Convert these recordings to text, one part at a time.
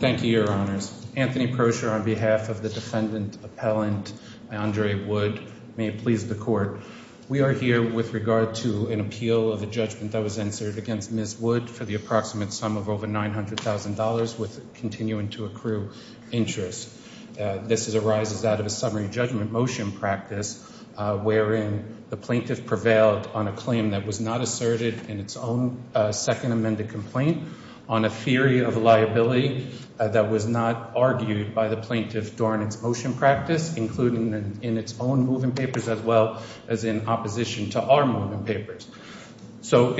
Thank you, Your Honors. Anthony Persher on behalf of the defendant appellant Andre Wood. May it please the court. We are here with regard to an appeal of a judgment that was answered against Ms. Wood for the approximate sum of over $900,000 with continuing to accrue interest. This arises out of a summary judgment motion practice wherein the plaintiff prevailed on a claim that was not asserted in its own second amended complaint on a theory of liability that was not argued by the plaintiff during its motion practice, including in its own moving papers as well as in opposition to our moving papers. So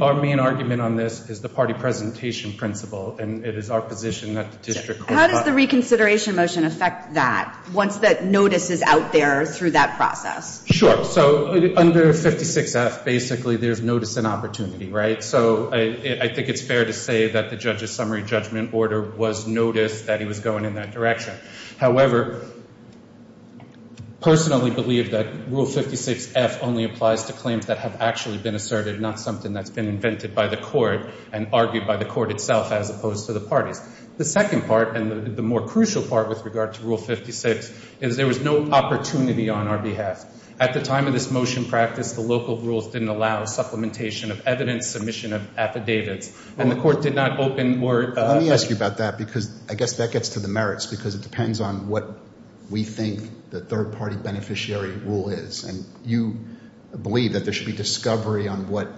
our main argument on this is the party presentation principle, and it is our position that the district court... How does the reconsideration motion affect that once that notice is out there through that process? Sure. So under 56F, basically there's notice and opportunity, right? So I think it's fair to say that the judge's summary judgment order was notice that he was going in that direction. However, personally believe that Rule 56F only applies to claims that have actually been asserted, not something that's been invented by the court and argued by the court itself as opposed to the parties. The second part and the more crucial part with regard to Rule 56 is there was no opportunity on our behalf. At the time of this motion practice, the local rules didn't allow supplementation of evidence, submission of affidavits, and the court did not open more... Let me ask you about that because I guess that gets to the merits because it depends on what we think the third-party beneficiary rule is. And you believe that there should be discovery on what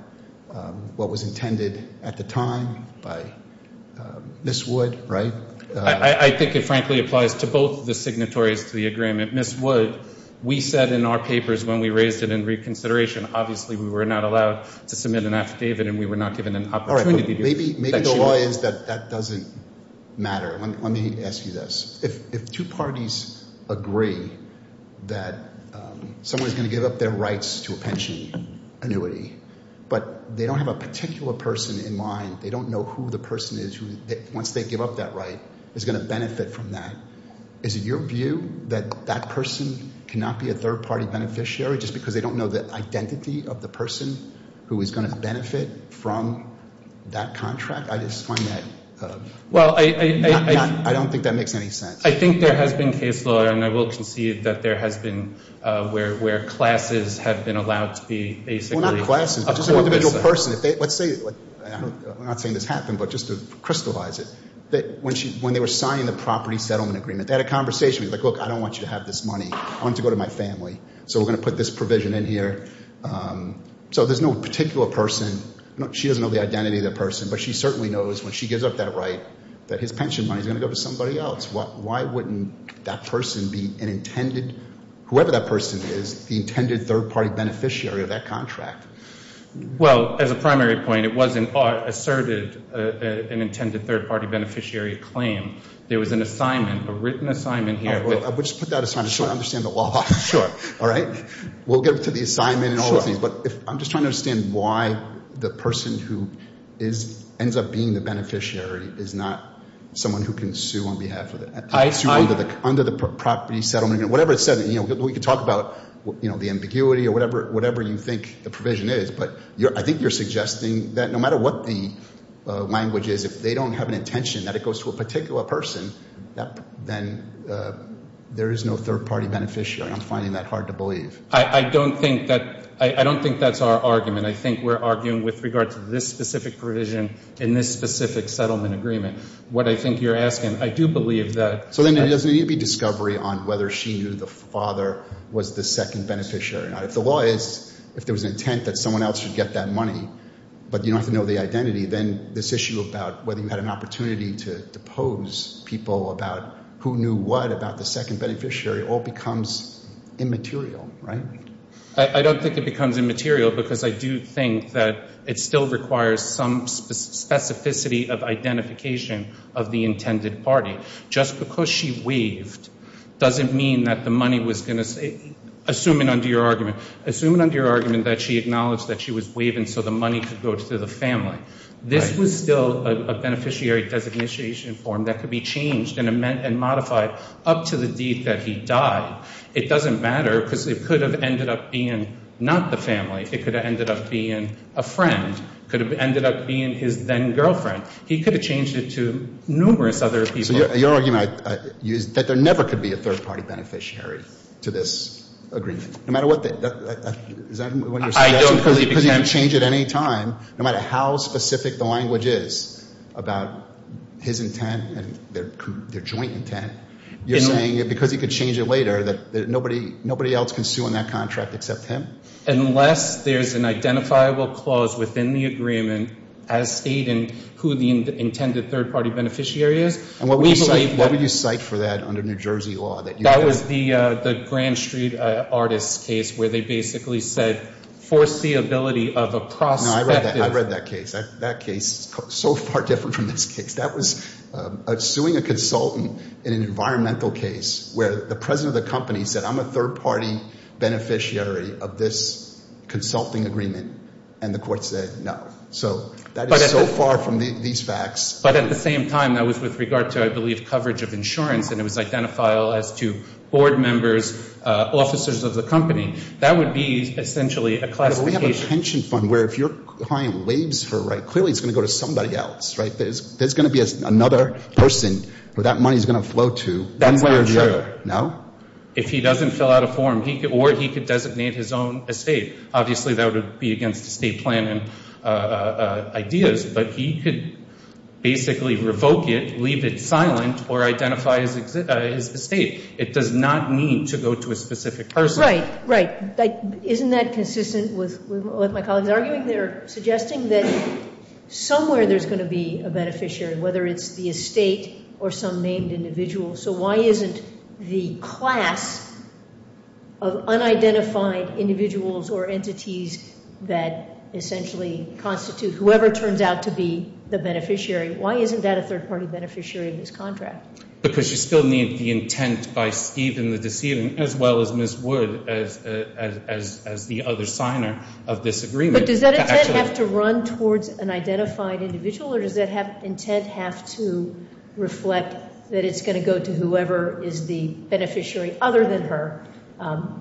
was intended at the time by Ms. Wood, right? I think it frankly applies to both the signatories to the agreement. Ms. Wood, we said in our papers when we raised it in reconsideration, obviously we were not allowed to submit an affidavit and we were not given an opportunity to... Maybe the law is that that doesn't matter. Let me ask you this. If two parties agree that someone is going to give up their rights to a pension annuity but they don't have a particular person in mind, they don't know who the person is who once they give up that right is going to benefit from that, is it your view that that person cannot be a third-party beneficiary just because they don't know the identity of the person who is going to benefit from that contract? I just find that... I don't think that makes any sense. I think there has been case law and I will concede that there has been where classes have been allowed to be basically... Well, not classes, just an individual person. Let's say, I'm not saying this happened, but just to crystallize it. When they were signing the property settlement agreement, they had a conversation. It was like, look, I don't want you to have this money. I want it to go to my family. So we're going to put this provision in here. So there's no particular person. She doesn't know the identity of the person, but she certainly knows when she gives up that right that his pension money is going to go to somebody else. Why wouldn't that person be an intended... whoever that person is, the intended third-party beneficiary of that contract? Well, as a primary point, it wasn't asserted an intended third-party beneficiary claim. There was an assignment, a written assignment here. We'll just put that aside. I just want to understand the law. Sure. All right? We'll get to the assignment and all those things. But I'm just trying to understand why the person who ends up being the beneficiary is not someone who can sue on behalf of the... Under the property settlement agreement, whatever it said. We could talk about the ambiguity or whatever you think the provision is, but I think you're suggesting that no matter what the language is, if they don't have an intention that it goes to a particular person, then there is no third-party beneficiary. I'm finding that hard to believe. I don't think that's our argument. I think we're arguing with regard to this specific provision in this specific settlement agreement. What I think you're asking, I do believe that... So then there doesn't need to be discovery on whether she knew the father was the second beneficiary or not. If the law is, if there was an intent that someone else should get that money, but you don't have to know the identity, then this issue about whether you had an opportunity to depose people about who knew what about the second beneficiary all becomes immaterial, right? I don't think it becomes immaterial because I do think that it still requires some specificity of identification of the intended party. Just because she waived doesn't mean that the money was going to... Assuming under your argument, assuming under your argument that she acknowledged that she was waiving so the money could go to the family, this was still a beneficiary designation form that could be changed and modified up to the deed that he died. It doesn't matter because it could have ended up being not the family. It could have ended up being a friend. It could have ended up being his then-girlfriend. He could have changed it to numerous other people. So your argument is that there never could be a third-party beneficiary to this agreement. No matter what the... I don't believe... Because you can change it any time, no matter how specific the language is about his intent and their joint intent, you're saying because he could change it later that nobody else can sue on that contract except him? Unless there's an identifiable clause within the agreement as stating who the intended third-party beneficiary is. And what would you cite for that under New Jersey law? That was the Grand Street Artist case where they basically said foreseeability of a prospect... No, I read that case. That case is so far different from this case. That was suing a consultant in an environmental case where the president of the company said, I'm a third-party beneficiary of this consulting agreement, and the court said no. So that is so far from these facts. But at the same time, that was with regard to, I believe, coverage of insurance, and it was identifiable as to board members, officers of the company. That would be essentially a classification. Because we have a pension fund where if your client waives her right, clearly it's going to go to somebody else, right? There's going to be another person who that money is going to flow to one way or the other. No? If he doesn't fill out a form, or he could designate his own estate. Obviously, that would be against the state plan and ideas. But he could basically revoke it, leave it silent, or identify his estate. It does not mean to go to a specific person. Right, right. Isn't that consistent with what my colleagues are arguing? They're suggesting that somewhere there's going to be a beneficiary, whether it's the estate or some named individual. So why isn't the class of unidentified individuals or entities that essentially constitute whoever turns out to be the beneficiary, why isn't that a third-party beneficiary of this contract? Because you still need the intent by Steve and the decedent, as well as Ms. Wood, as the other signer of this agreement. But does that intent have to run towards an identified individual, or does that intent have to reflect that it's going to go to whoever is the beneficiary other than her,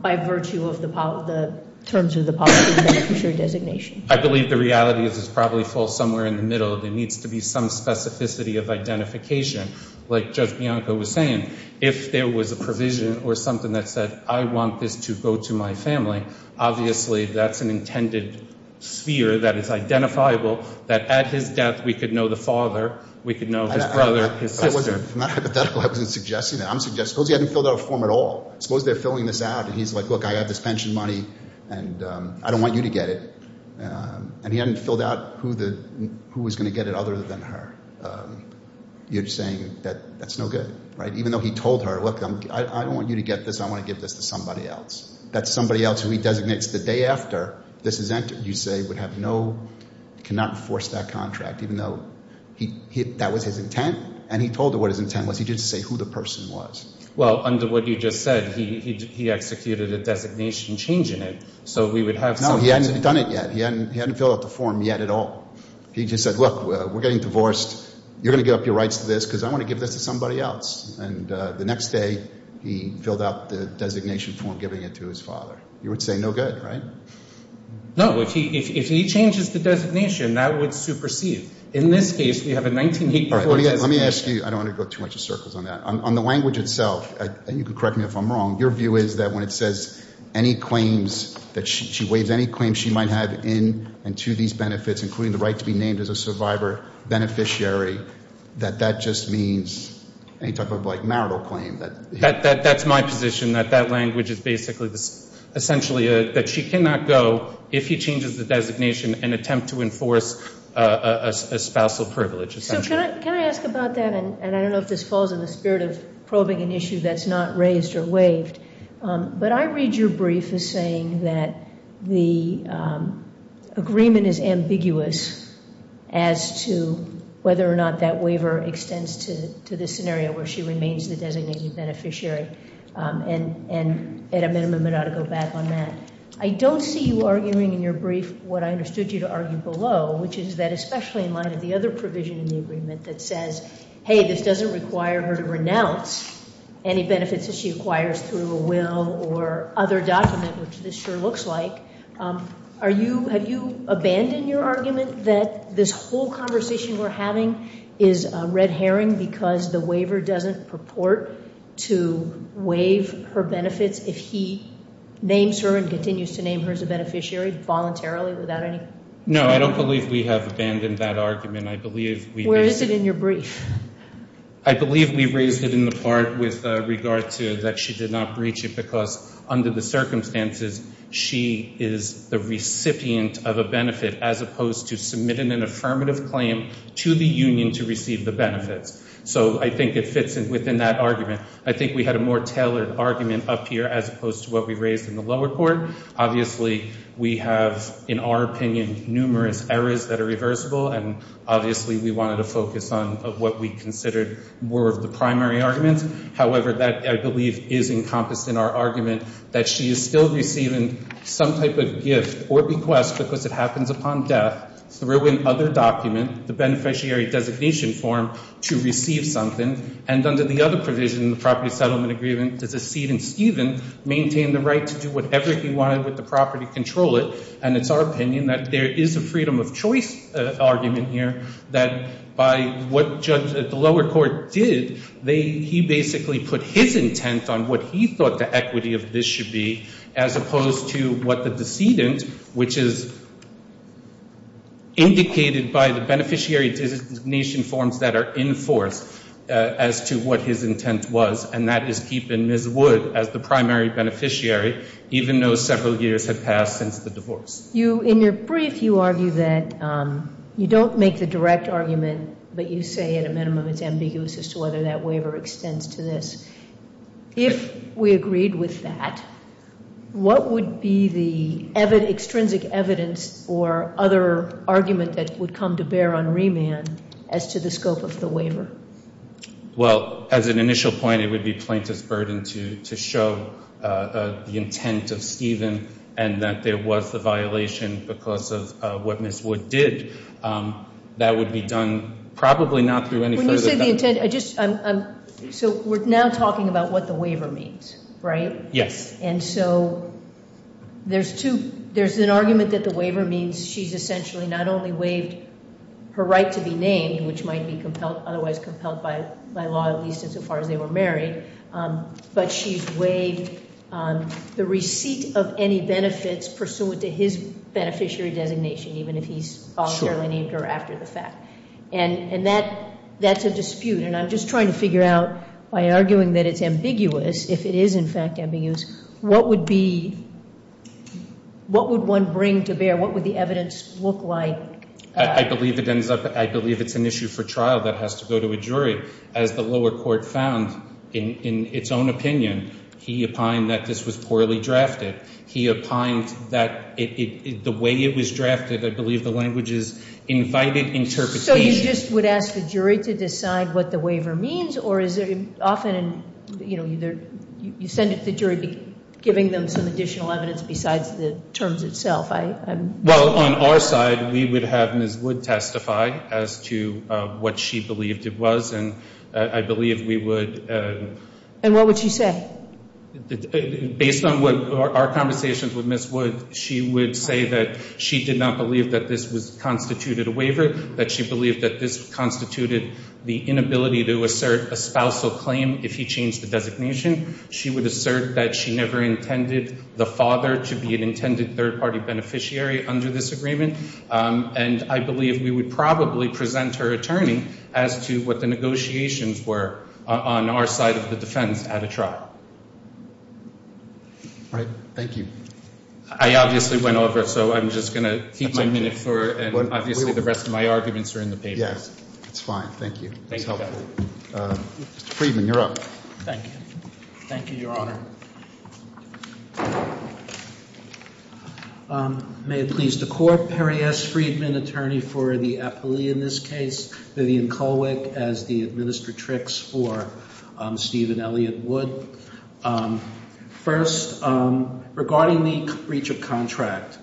by virtue of the terms of the policy and beneficiary designation? I believe the reality is it's probably full somewhere in the middle. There needs to be some specificity of identification, like Judge Bianco was saying. If there was a provision or something that said, I want this to go to my family, obviously that's an intended sphere that is identifiable, that at his death we could know the father, we could know his brother, his sister. I'm not hypothetical. I wasn't suggesting that. Suppose he hadn't filled out a form at all. Suppose they're filling this out, and he's like, look, I have this pension money, and I don't want you to get it. And he hadn't filled out who was going to get it other than her. You're saying that that's no good, right? Even though he told her, look, I don't want you to get this. I want to give this to somebody else. That's somebody else who he designates the day after this is entered. You say would have no, cannot enforce that contract, even though that was his intent. And he told her what his intent was. He didn't say who the person was. Well, under what you just said, he executed a designation change in it. So we would have some— No, he hadn't done it yet. He hadn't filled out the form yet at all. He just said, look, we're getting divorced. You're going to give up your rights to this because I want to give this to somebody else. And the next day, he filled out the designation form, giving it to his father. You would say no good, right? No. If he changes the designation, that would supersede. In this case, we have a 1984 designation. Let me ask you—I don't want to go too much in circles on that. On the language itself, and you can correct me if I'm wrong, your view is that when it says any claims, that she waives any claims she might have in and to these benefits, including the right to be named as a survivor beneficiary, that that just means any type of, like, marital claim. That's my position, that that language is basically essentially that she cannot go if he changes the designation and attempt to enforce a spousal privilege, essentially. So can I ask about that? And I don't know if this falls in the spirit of probing an issue that's not raised or waived, but I read your brief as saying that the agreement is ambiguous as to whether or not that waiver extends to this scenario where she remains the designated beneficiary, and at a minimum, it ought to go back on that. I don't see you arguing in your brief what I understood you to argue below, which is that especially in light of the other provision in the agreement that says, hey, this doesn't require her to renounce any benefits that she acquires through a will or other document, which this sure looks like, have you abandoned your argument that this whole conversation we're having is red herring because the waiver doesn't purport to waive her benefits if he names her and continues to name her as a beneficiary voluntarily without any? No, I don't believe we have abandoned that argument. Where is it in your brief? I believe we raised it in the part with regard to that she did not breach it because under the circumstances, she is the recipient of a benefit as opposed to submitting an affirmative claim to the union to receive the benefits. So I think it fits within that argument. I think we had a more tailored argument up here as opposed to what we raised in the lower court. Obviously, we have, in our opinion, numerous errors that are reversible, and obviously we wanted to focus on what we considered were the primary arguments. However, that, I believe, is encompassed in our argument that she is still receiving some type of gift or request because it happens upon death through an other document, the beneficiary designation form, to receive something. And under the other provision in the property settlement agreement, the decedent, Stephen, maintained the right to do whatever he wanted with the property, control it. And it's our opinion that there is a freedom of choice argument here that by what the lower court did, he basically put his intent on what he thought the equity of this should be as opposed to what the decedent, which is indicated by the beneficiary designation forms that are enforced as to what his intent was, and that is keeping Ms. Wood as the primary beneficiary, even though several years had passed since the divorce. In your brief, you argue that you don't make the direct argument, but you say at a minimum it's ambiguous as to whether that waiver extends to this. If we agreed with that, what would be the extrinsic evidence or other argument that would come to bear on remand as to the scope of the waiver? Well, as an initial point, it would be plaintiff's burden to show the intent of Stephen and that there was a violation because of what Ms. Wood did. That would be done probably not through any further. When you say the intent, I just, so we're now talking about what the waiver means, right? Yes. And so there's two, there's an argument that the waiver means she's essentially not only waived her right to be named, which might be otherwise compelled by law, at least insofar as they were married, but she's waived the receipt of any benefits pursuant to his beneficiary designation, even if he's authorly named her after the fact. And that's a dispute, and I'm just trying to figure out by arguing that it's ambiguous, if it is in fact ambiguous, what would be, what would one bring to bear? What would the evidence look like? I believe it ends up, I believe it's an issue for trial that has to go to a jury. As the lower court found in its own opinion, he opined that this was poorly drafted. He opined that the way it was drafted, I believe the language is invited interpretation. So you just would ask the jury to decide what the waiver means, or is it often, you know, you send it to the jury giving them some additional evidence besides the terms itself? Well, on our side, we would have Ms. Wood testify as to what she believed it was. And I believe we would. And what would she say? Based on what our conversations with Ms. Wood, she would say that she did not believe that this was constituted a waiver, that she believed that this constituted the inability to assert a spousal claim if he changed the designation. She would assert that she never intended the father to be an intended third-party beneficiary under this agreement. And I believe we would probably present her attorney as to what the negotiations were on our side of the defense at a trial. All right. Thank you. I obviously went over, so I'm just going to keep my minute for it, and obviously the rest of my arguments are in the papers. Yes. It's fine. Thank you. It was helpful. Mr. Friedman, you're up. Thank you. Thank you, Your Honor. May it please the Court. Perry S. Friedman, attorney for the appellee in this case. Vivian Kulwick as the administratrix for Steve and Elliot Wood. First, regarding the breach of contract,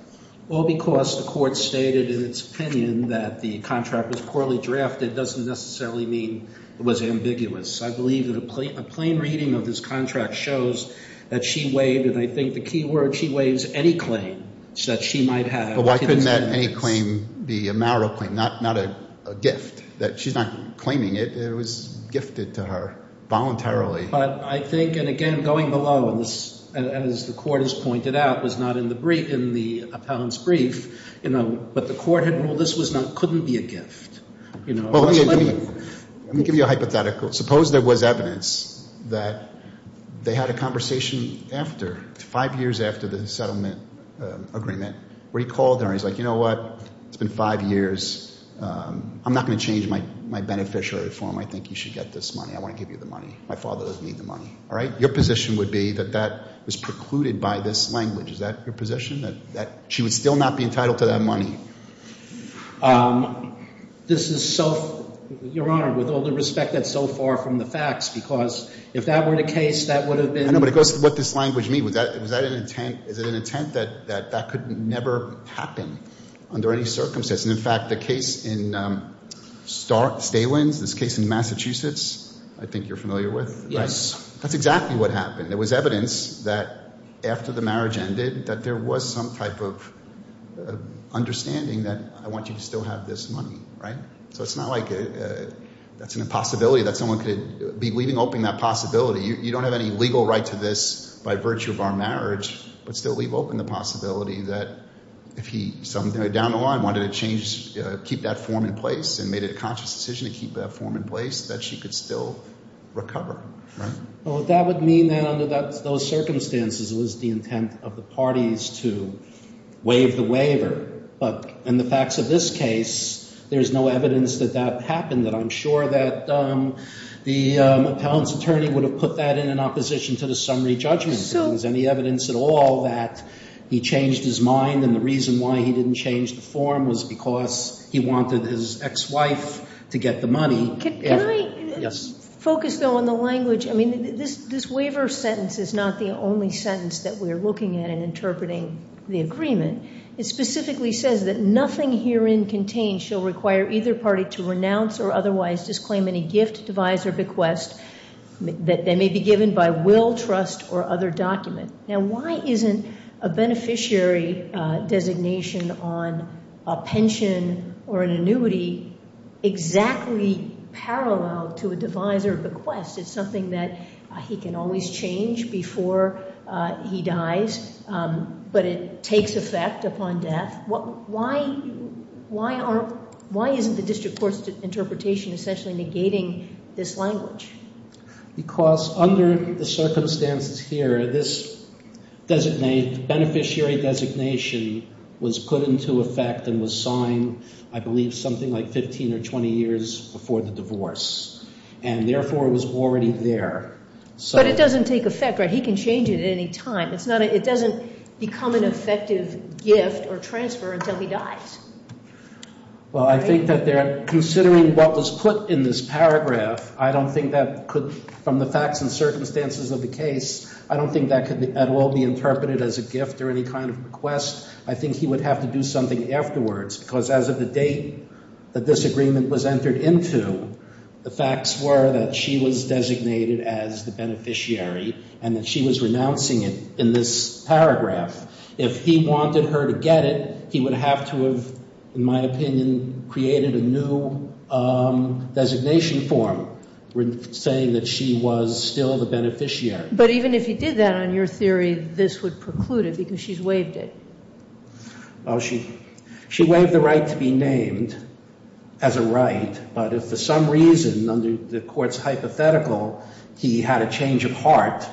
all because the Court stated in its opinion that the contract was poorly drafted doesn't necessarily mean it was ambiguous. I believe that a plain reading of this contract shows that she waived, and I think the key word, she waives any claim that she might have. But why couldn't that any claim be a marital claim, not a gift? She's not claiming it. It was gifted to her voluntarily. But I think, and again, going below, and as the Court has pointed out, it was not in the appellant's brief, but the Court had ruled this couldn't be a gift. Let me give you a hypothetical. Suppose there was evidence that they had a conversation after, five years after the settlement agreement, where he called her and he's like, you know what? It's been five years. I'm not going to change my beneficiary form. I think you should get this money. I want to give you the money. My father doesn't need the money. All right? Your position would be that that was precluded by this language. Is that your position, that she would still not be entitled to that money? This is so, Your Honor, with all due respect, that's so far from the facts, because if that were the case, that would have been. I know, but it goes to what this language means. Was that an intent? Is it an intent that that could never happen under any circumstance? And, in fact, the case in Stalins, this case in Massachusetts, I think you're familiar with. Yes. That's exactly what happened. It was evidence that after the marriage ended that there was some type of understanding that I want you to still have this money. So it's not like that's an impossibility that someone could be leaving open that possibility. You don't have any legal right to this by virtue of our marriage, but still leave open the possibility that if he, down the line, wanted to keep that form in place and made it a conscious decision to keep that form in place, that she could still recover. Well, that would mean that under those circumstances, it was the intent of the parties to waive the waiver. But in the facts of this case, there's no evidence that that happened, that I'm sure that the appellant's attorney would have put that in in opposition to the summary judgment. If there was any evidence at all that he changed his mind, and the reason why he didn't change the form was because he wanted his ex-wife to get the money. Can I focus, though, on the language? I mean, this waiver sentence is not the only sentence that we're looking at in interpreting the agreement. It specifically says that nothing herein contained shall require either party to renounce or otherwise disclaim any gift, device, or bequest that may be given by will, trust, or other document. Now, why isn't a beneficiary designation on a pension or an annuity exactly parallel to a device or bequest? It's something that he can always change before he dies, but it takes effect upon death. Why isn't the district court's interpretation essentially negating this language? Because under the circumstances here, this beneficiary designation was put into effect and was signed, I believe, something like 15 or 20 years before the divorce, and therefore it was already there. But it doesn't take effect, right? He can change it at any time. It doesn't become an effective gift or transfer until he dies. Well, I think that they're considering what was put in this paragraph. I don't think that could, from the facts and circumstances of the case, I don't think that could at all be interpreted as a gift or any kind of bequest. I think he would have to do something afterwards because as of the date that this agreement was entered into, the facts were that she was designated as the beneficiary and that she was renouncing it in this paragraph. If he wanted her to get it, he would have to have, in my opinion, created a new designation form, saying that she was still the beneficiary. But even if he did that, on your theory, this would preclude it because she's waived it. Well, she waived the right to be named as a right, but if for some reason, under the court's hypothetical, he had a change of heart,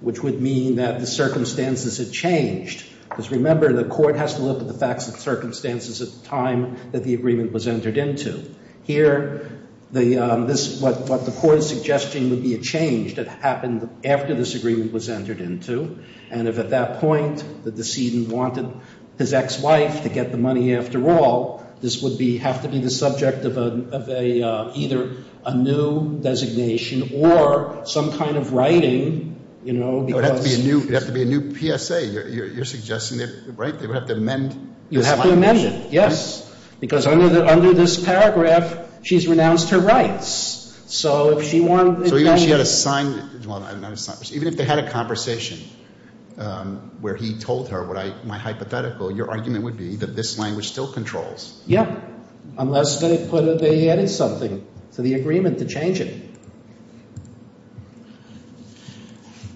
which would mean that the circumstances had changed. Because remember, the court has to look at the facts and circumstances at the time that the agreement was entered into. Here, what the court is suggesting would be a change that happened after this agreement was entered into. And if at that point, the decedent wanted his ex-wife to get the money after all, this would have to be the subject of either a new designation or some kind of writing, you know. It would have to be a new PSA, you're suggesting, right? They would have to amend. You have to amend it, yes. Because under this paragraph, she's renounced her rights. So even if she had a sign, even if they had a conversation where he told her, your argument would be that this language still controls. Yeah, unless they added something to the agreement to change it.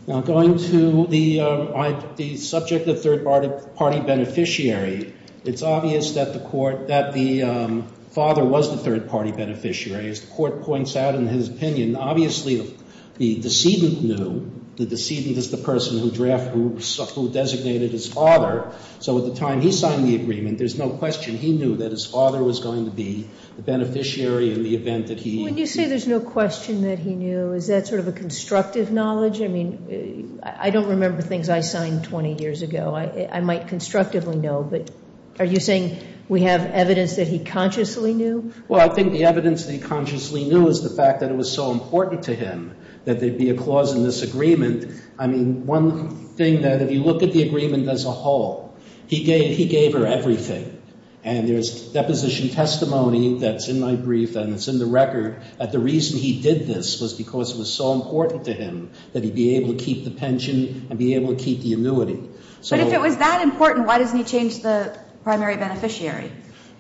Now, going to the subject of third-party beneficiary, it's obvious that the father was the third-party beneficiary. As the court points out in his opinion, obviously, the decedent knew. The decedent is the person who designated his father. So at the time he signed the agreement, there's no question he knew that his father was going to be the beneficiary in the event that he. When you say there's no question that he knew, is that sort of a constructive knowledge? I mean, I don't remember things I signed 20 years ago. I might constructively know, but are you saying we have evidence that he consciously knew? Well, I think the evidence that he consciously knew is the fact that it was so important to him that there be a clause in this agreement. I mean, one thing that if you look at the agreement as a whole, he gave her everything. And there's deposition testimony that's in my brief and it's in the record that the reason he did this was because it was so important to him that he be able to keep the pension and be able to keep the annuity. But if it was that important, why doesn't he change the primary beneficiary?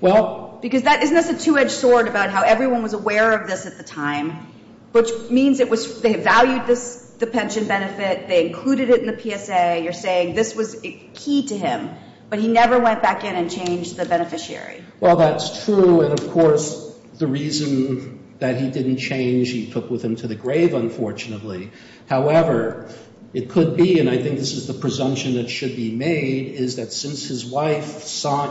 Because isn't this a two-edged sword about how everyone was aware of this at the time, which means they valued the pension benefit, they included it in the PSA. You're saying this was key to him, but he never went back in and changed the beneficiary. Well, that's true. And, of course, the reason that he didn't change, he took with him to the grave, unfortunately. However, it could be, and I think this is the presumption that should be made, is that since his wife,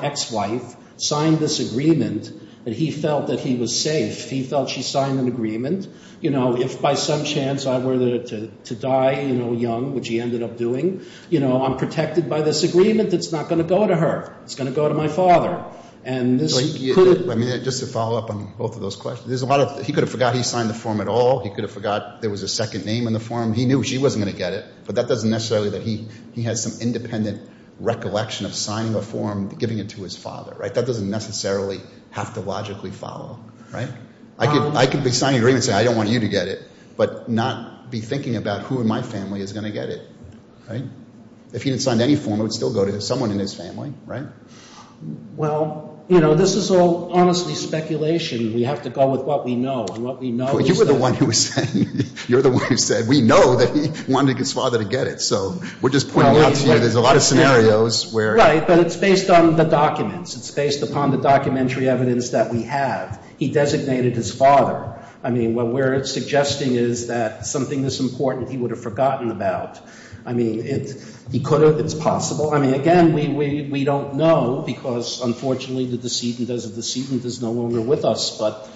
ex-wife, signed this agreement, that he felt that he was safe. He felt she signed an agreement. You know, if by some chance I were to die young, which he ended up doing, you know, I'm protected by this agreement. It's not going to go to her. It's going to go to my father. And this could have... Let me just follow up on both of those questions. There's a lot of... He could have forgot he signed the form at all. He could have forgot there was a second name in the form. He knew she wasn't going to get it, but that doesn't necessarily... He has some independent recollection of signing a form, giving it to his father, right? That doesn't necessarily have to logically follow, right? I could be signing an agreement and say, I don't want you to get it, but not be thinking about who in my family is going to get it, right? If he had signed any form, it would still go to someone in his family, right? Well, you know, this is all honestly speculation. We have to go with what we know. And what we know is that... But you were the one who was saying, you're the one who said, we know that he wanted his father to get it. So we're just pointing out to you there's a lot of scenarios where... Right. But it's based on the documents. It's based upon the documentary evidence that we have. He designated his father. I mean, what we're suggesting is that something this important he would have forgotten about. I mean, he could have. It's possible. I mean, again, we don't know because, unfortunately, the decedent is no longer with us. But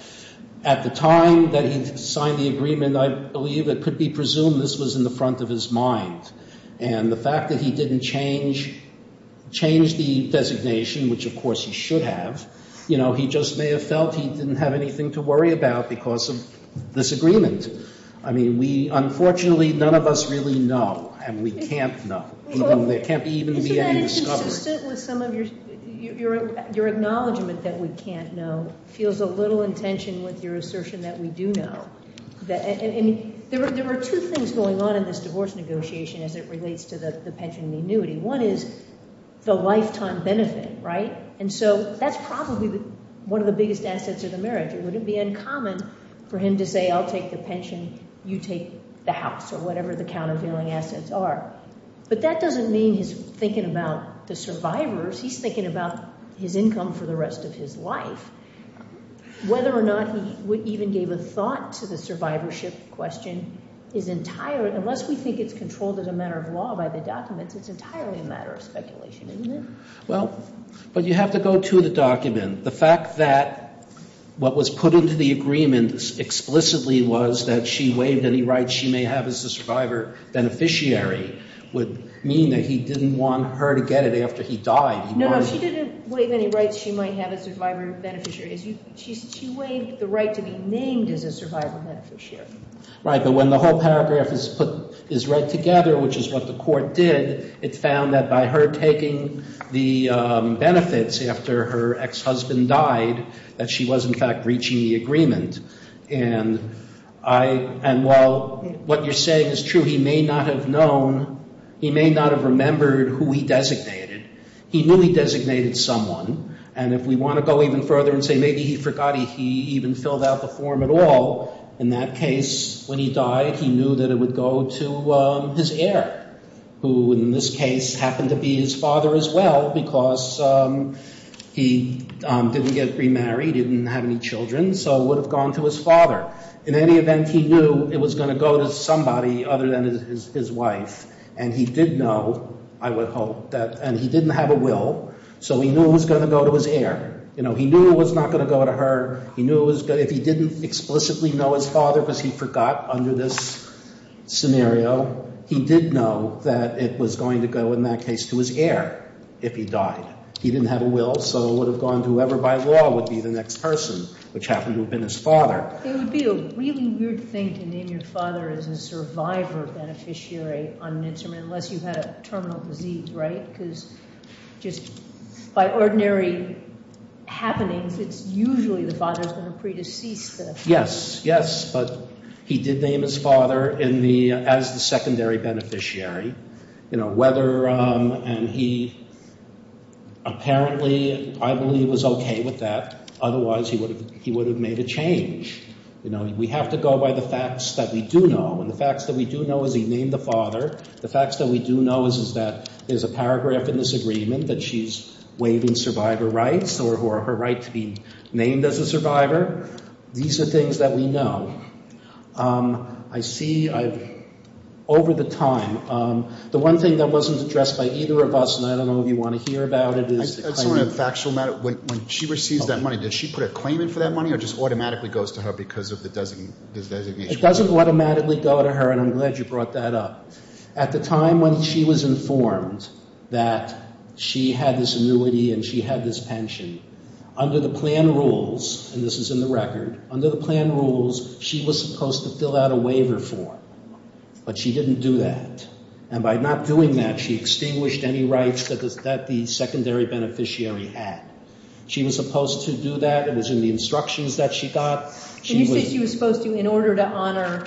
at the time that he signed the agreement, I believe it could be presumed this was in the front of his mind. And the fact that he didn't change the designation, which, of course, he should have, you know, he just may have felt he didn't have anything to worry about because of this agreement. I mean, we, unfortunately, none of us really know. And we can't know. There can't even be any discovery. Your acknowledgment that we can't know feels a little in tension with your assertion that we do know. And there are two things going on in this divorce negotiation as it relates to the pension and the annuity. One is the lifetime benefit, right? And so that's probably one of the biggest assets of the marriage. It wouldn't be uncommon for him to say, I'll take the pension, you take the house or whatever the countervailing assets are. But that doesn't mean he's thinking about the survivors. He's thinking about his income for the rest of his life. Whether or not he even gave a thought to the survivorship question is entirely, unless we think it's controlled as a matter of law by the documents, it's entirely a matter of speculation, isn't it? Well, but you have to go to the document. The fact that what was put into the agreement explicitly was that she waived any rights she may have as a survivor beneficiary would mean that he didn't want her to get it after he died. No, no. She didn't waive any rights she might have as a survivor beneficiary. She waived the right to be named as a survivor beneficiary. Right. But when the whole paragraph is put, is read together, which is what the court did, it found that by her taking the benefits after her ex-husband died that she was, in fact, reaching the agreement. And while what you're saying is true, he may not have known, he may not have remembered who he designated. He knew he designated someone. And if we want to go even further and say maybe he forgot he even filled out the form at all, in that case, when he died, he knew that it would go to his heir, who in this case happened to be his father as well because he didn't get remarried, didn't have any children, so it would have gone to his father. In any event, he knew it was going to go to somebody other than his wife. And he did know, I would hope, and he didn't have a will, so he knew it was going to go to his heir. He knew it was not going to go to her. If he didn't explicitly know his father because he forgot under this scenario, he did know that it was going to go, in that case, to his heir if he died. He didn't have a will, so it would have gone to whoever by law would be the next person, which happened to have been his father. It would be a really weird thing to name your father as a survivor beneficiary on an instrument unless you had a terminal disease, right? Because just by ordinary happenings, it's usually the father is going to pre-decease. Yes, yes, but he did name his father as the secondary beneficiary. And he apparently, I believe, was okay with that. Otherwise, he would have made a change. We have to go by the facts that we do know, and the facts that we do know is he named the father. The facts that we do know is that there's a paragraph in this agreement that she's waiving survivor rights or her right to be named as a survivor. These are things that we know. I see I've, over the time, the one thing that wasn't addressed by either of us, and I don't know if you want to hear about it, is the claimant. I just want a factual matter. When she receives that money, does she put a claim in for that money or just automatically goes to her because of the designation? It doesn't automatically go to her, and I'm glad you brought that up. At the time when she was informed that she had this annuity and she had this pension, under the plan rules, and this is in the record, under the plan rules, she was supposed to fill out a waiver form, but she didn't do that. And by not doing that, she extinguished any rights that the secondary beneficiary had. She was supposed to do that. It was in the instructions that she got. But you said she was supposed to in order to honor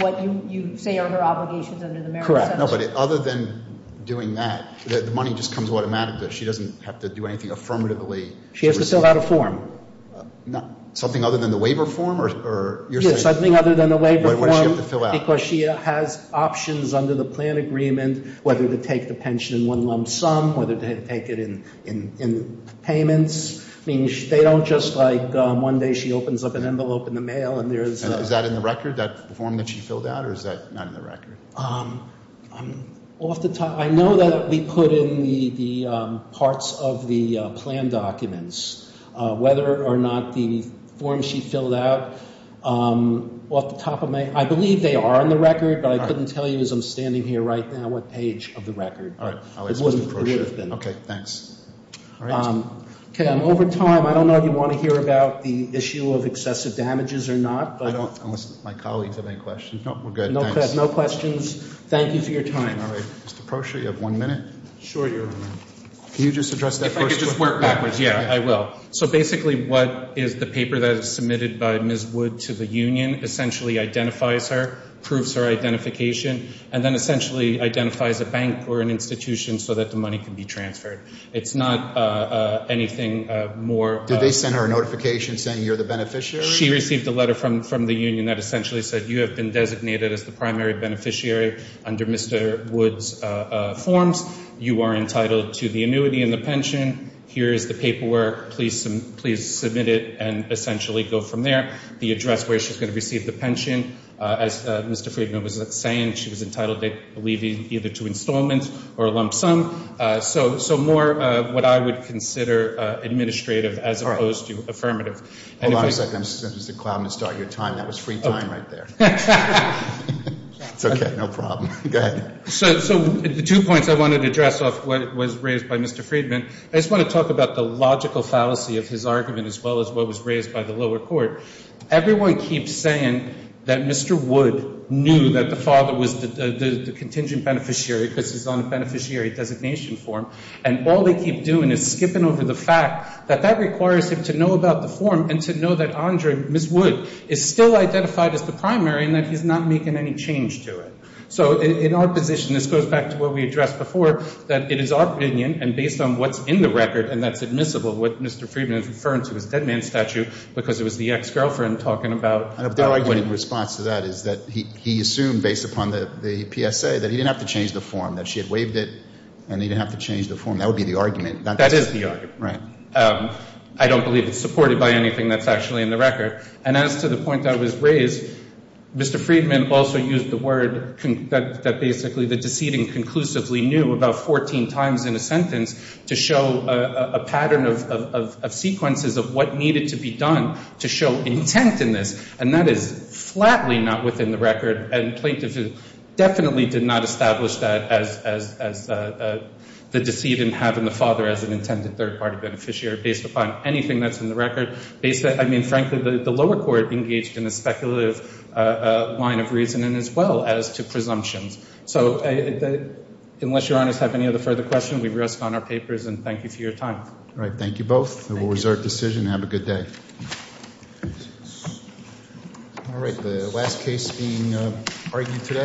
what you say are her obligations under the Merit Center. No, but other than doing that, the money just comes automatically. She doesn't have to do anything affirmatively. She has to fill out a form. Something other than the waiver form? Yes, something other than the waiver form because she has options under the plan agreement, whether to take the pension in one lump sum, whether to take it in payments. They don't just like one day she opens up an envelope in the mail and there's a... Is that in the record, that form that she filled out, or is that not in the record? I know that we put in the parts of the plan documents, whether or not the form she filled out. I believe they are in the record, but I couldn't tell you as I'm standing here right now what page of the record. All right. Okay, thanks. Okay, I'm over time. I don't know if you want to hear about the issue of excessive damages or not. I don't, unless my colleagues have any questions. No, we're good, thanks. No questions. Thank you for your time. All right. Mr. Prosher, you have one minute. Sure, Your Honor. Can you just address that first? If I could just work backwards, yeah, I will. So basically what is the paper that is submitted by Ms. Wood to the union essentially identifies her, proves her identification, and then essentially identifies a bank or an institution so that the money can be transferred. It's not anything more. Did they send her a notification saying you're the beneficiary? She received a letter from the union that essentially said you have been designated as the primary beneficiary under Mr. Wood's forms. You are entitled to the annuity and the pension. Here is the paperwork. Please submit it and essentially go from there. The address where she's going to receive the pension. As Mr. Friedman was saying, she was entitled, I believe, either to installment or a lump sum. So more what I would consider administrative as opposed to affirmative. Hold on a second. I'm going to send Mr. Cloudman to start your time. That was free time right there. It's okay. No problem. Go ahead. So the two points I wanted to address off what was raised by Mr. Friedman, I just want to talk about the logical fallacy of his argument as well as what was raised by the lower court. Everyone keeps saying that Mr. Wood knew that the father was the contingent beneficiary because he's on a beneficiary designation form. And all they keep doing is skipping over the fact that that requires him to know about the form and to know that Andre, Ms. Wood, is still identified as the primary and that he's not making any change to it. So in our position, this goes back to what we addressed before, that it is our opinion and based on what's in the record, and that's admissible, what Mr. Friedman is referring to is a dead man statue because it was the ex-girlfriend talking about. The argument in response to that is that he assumed based upon the PSA that he didn't have to change the form, that she had waived it and he didn't have to change the form. That would be the argument. That is the argument. Right. I don't believe it's supported by anything that's actually in the record. And as to the point that was raised, Mr. Friedman also used the word that basically the decedent conclusively knew about 14 times in a sentence to show a pattern of sequences of what needed to be done to show intent in this. And that is flatly not within the record. And plaintiffs definitely did not establish that as the decedent having the father as an intended third-party beneficiary based upon anything that's in the record. I mean, frankly, the lower court engaged in a speculative line of reasoning as well as to presumptions. So unless Your Honors have any other further questions, we rest on our papers and thank you for your time. All right. Thank you both. We'll reserve decision. Have a good day. Thanks. All right. The last case being argued today.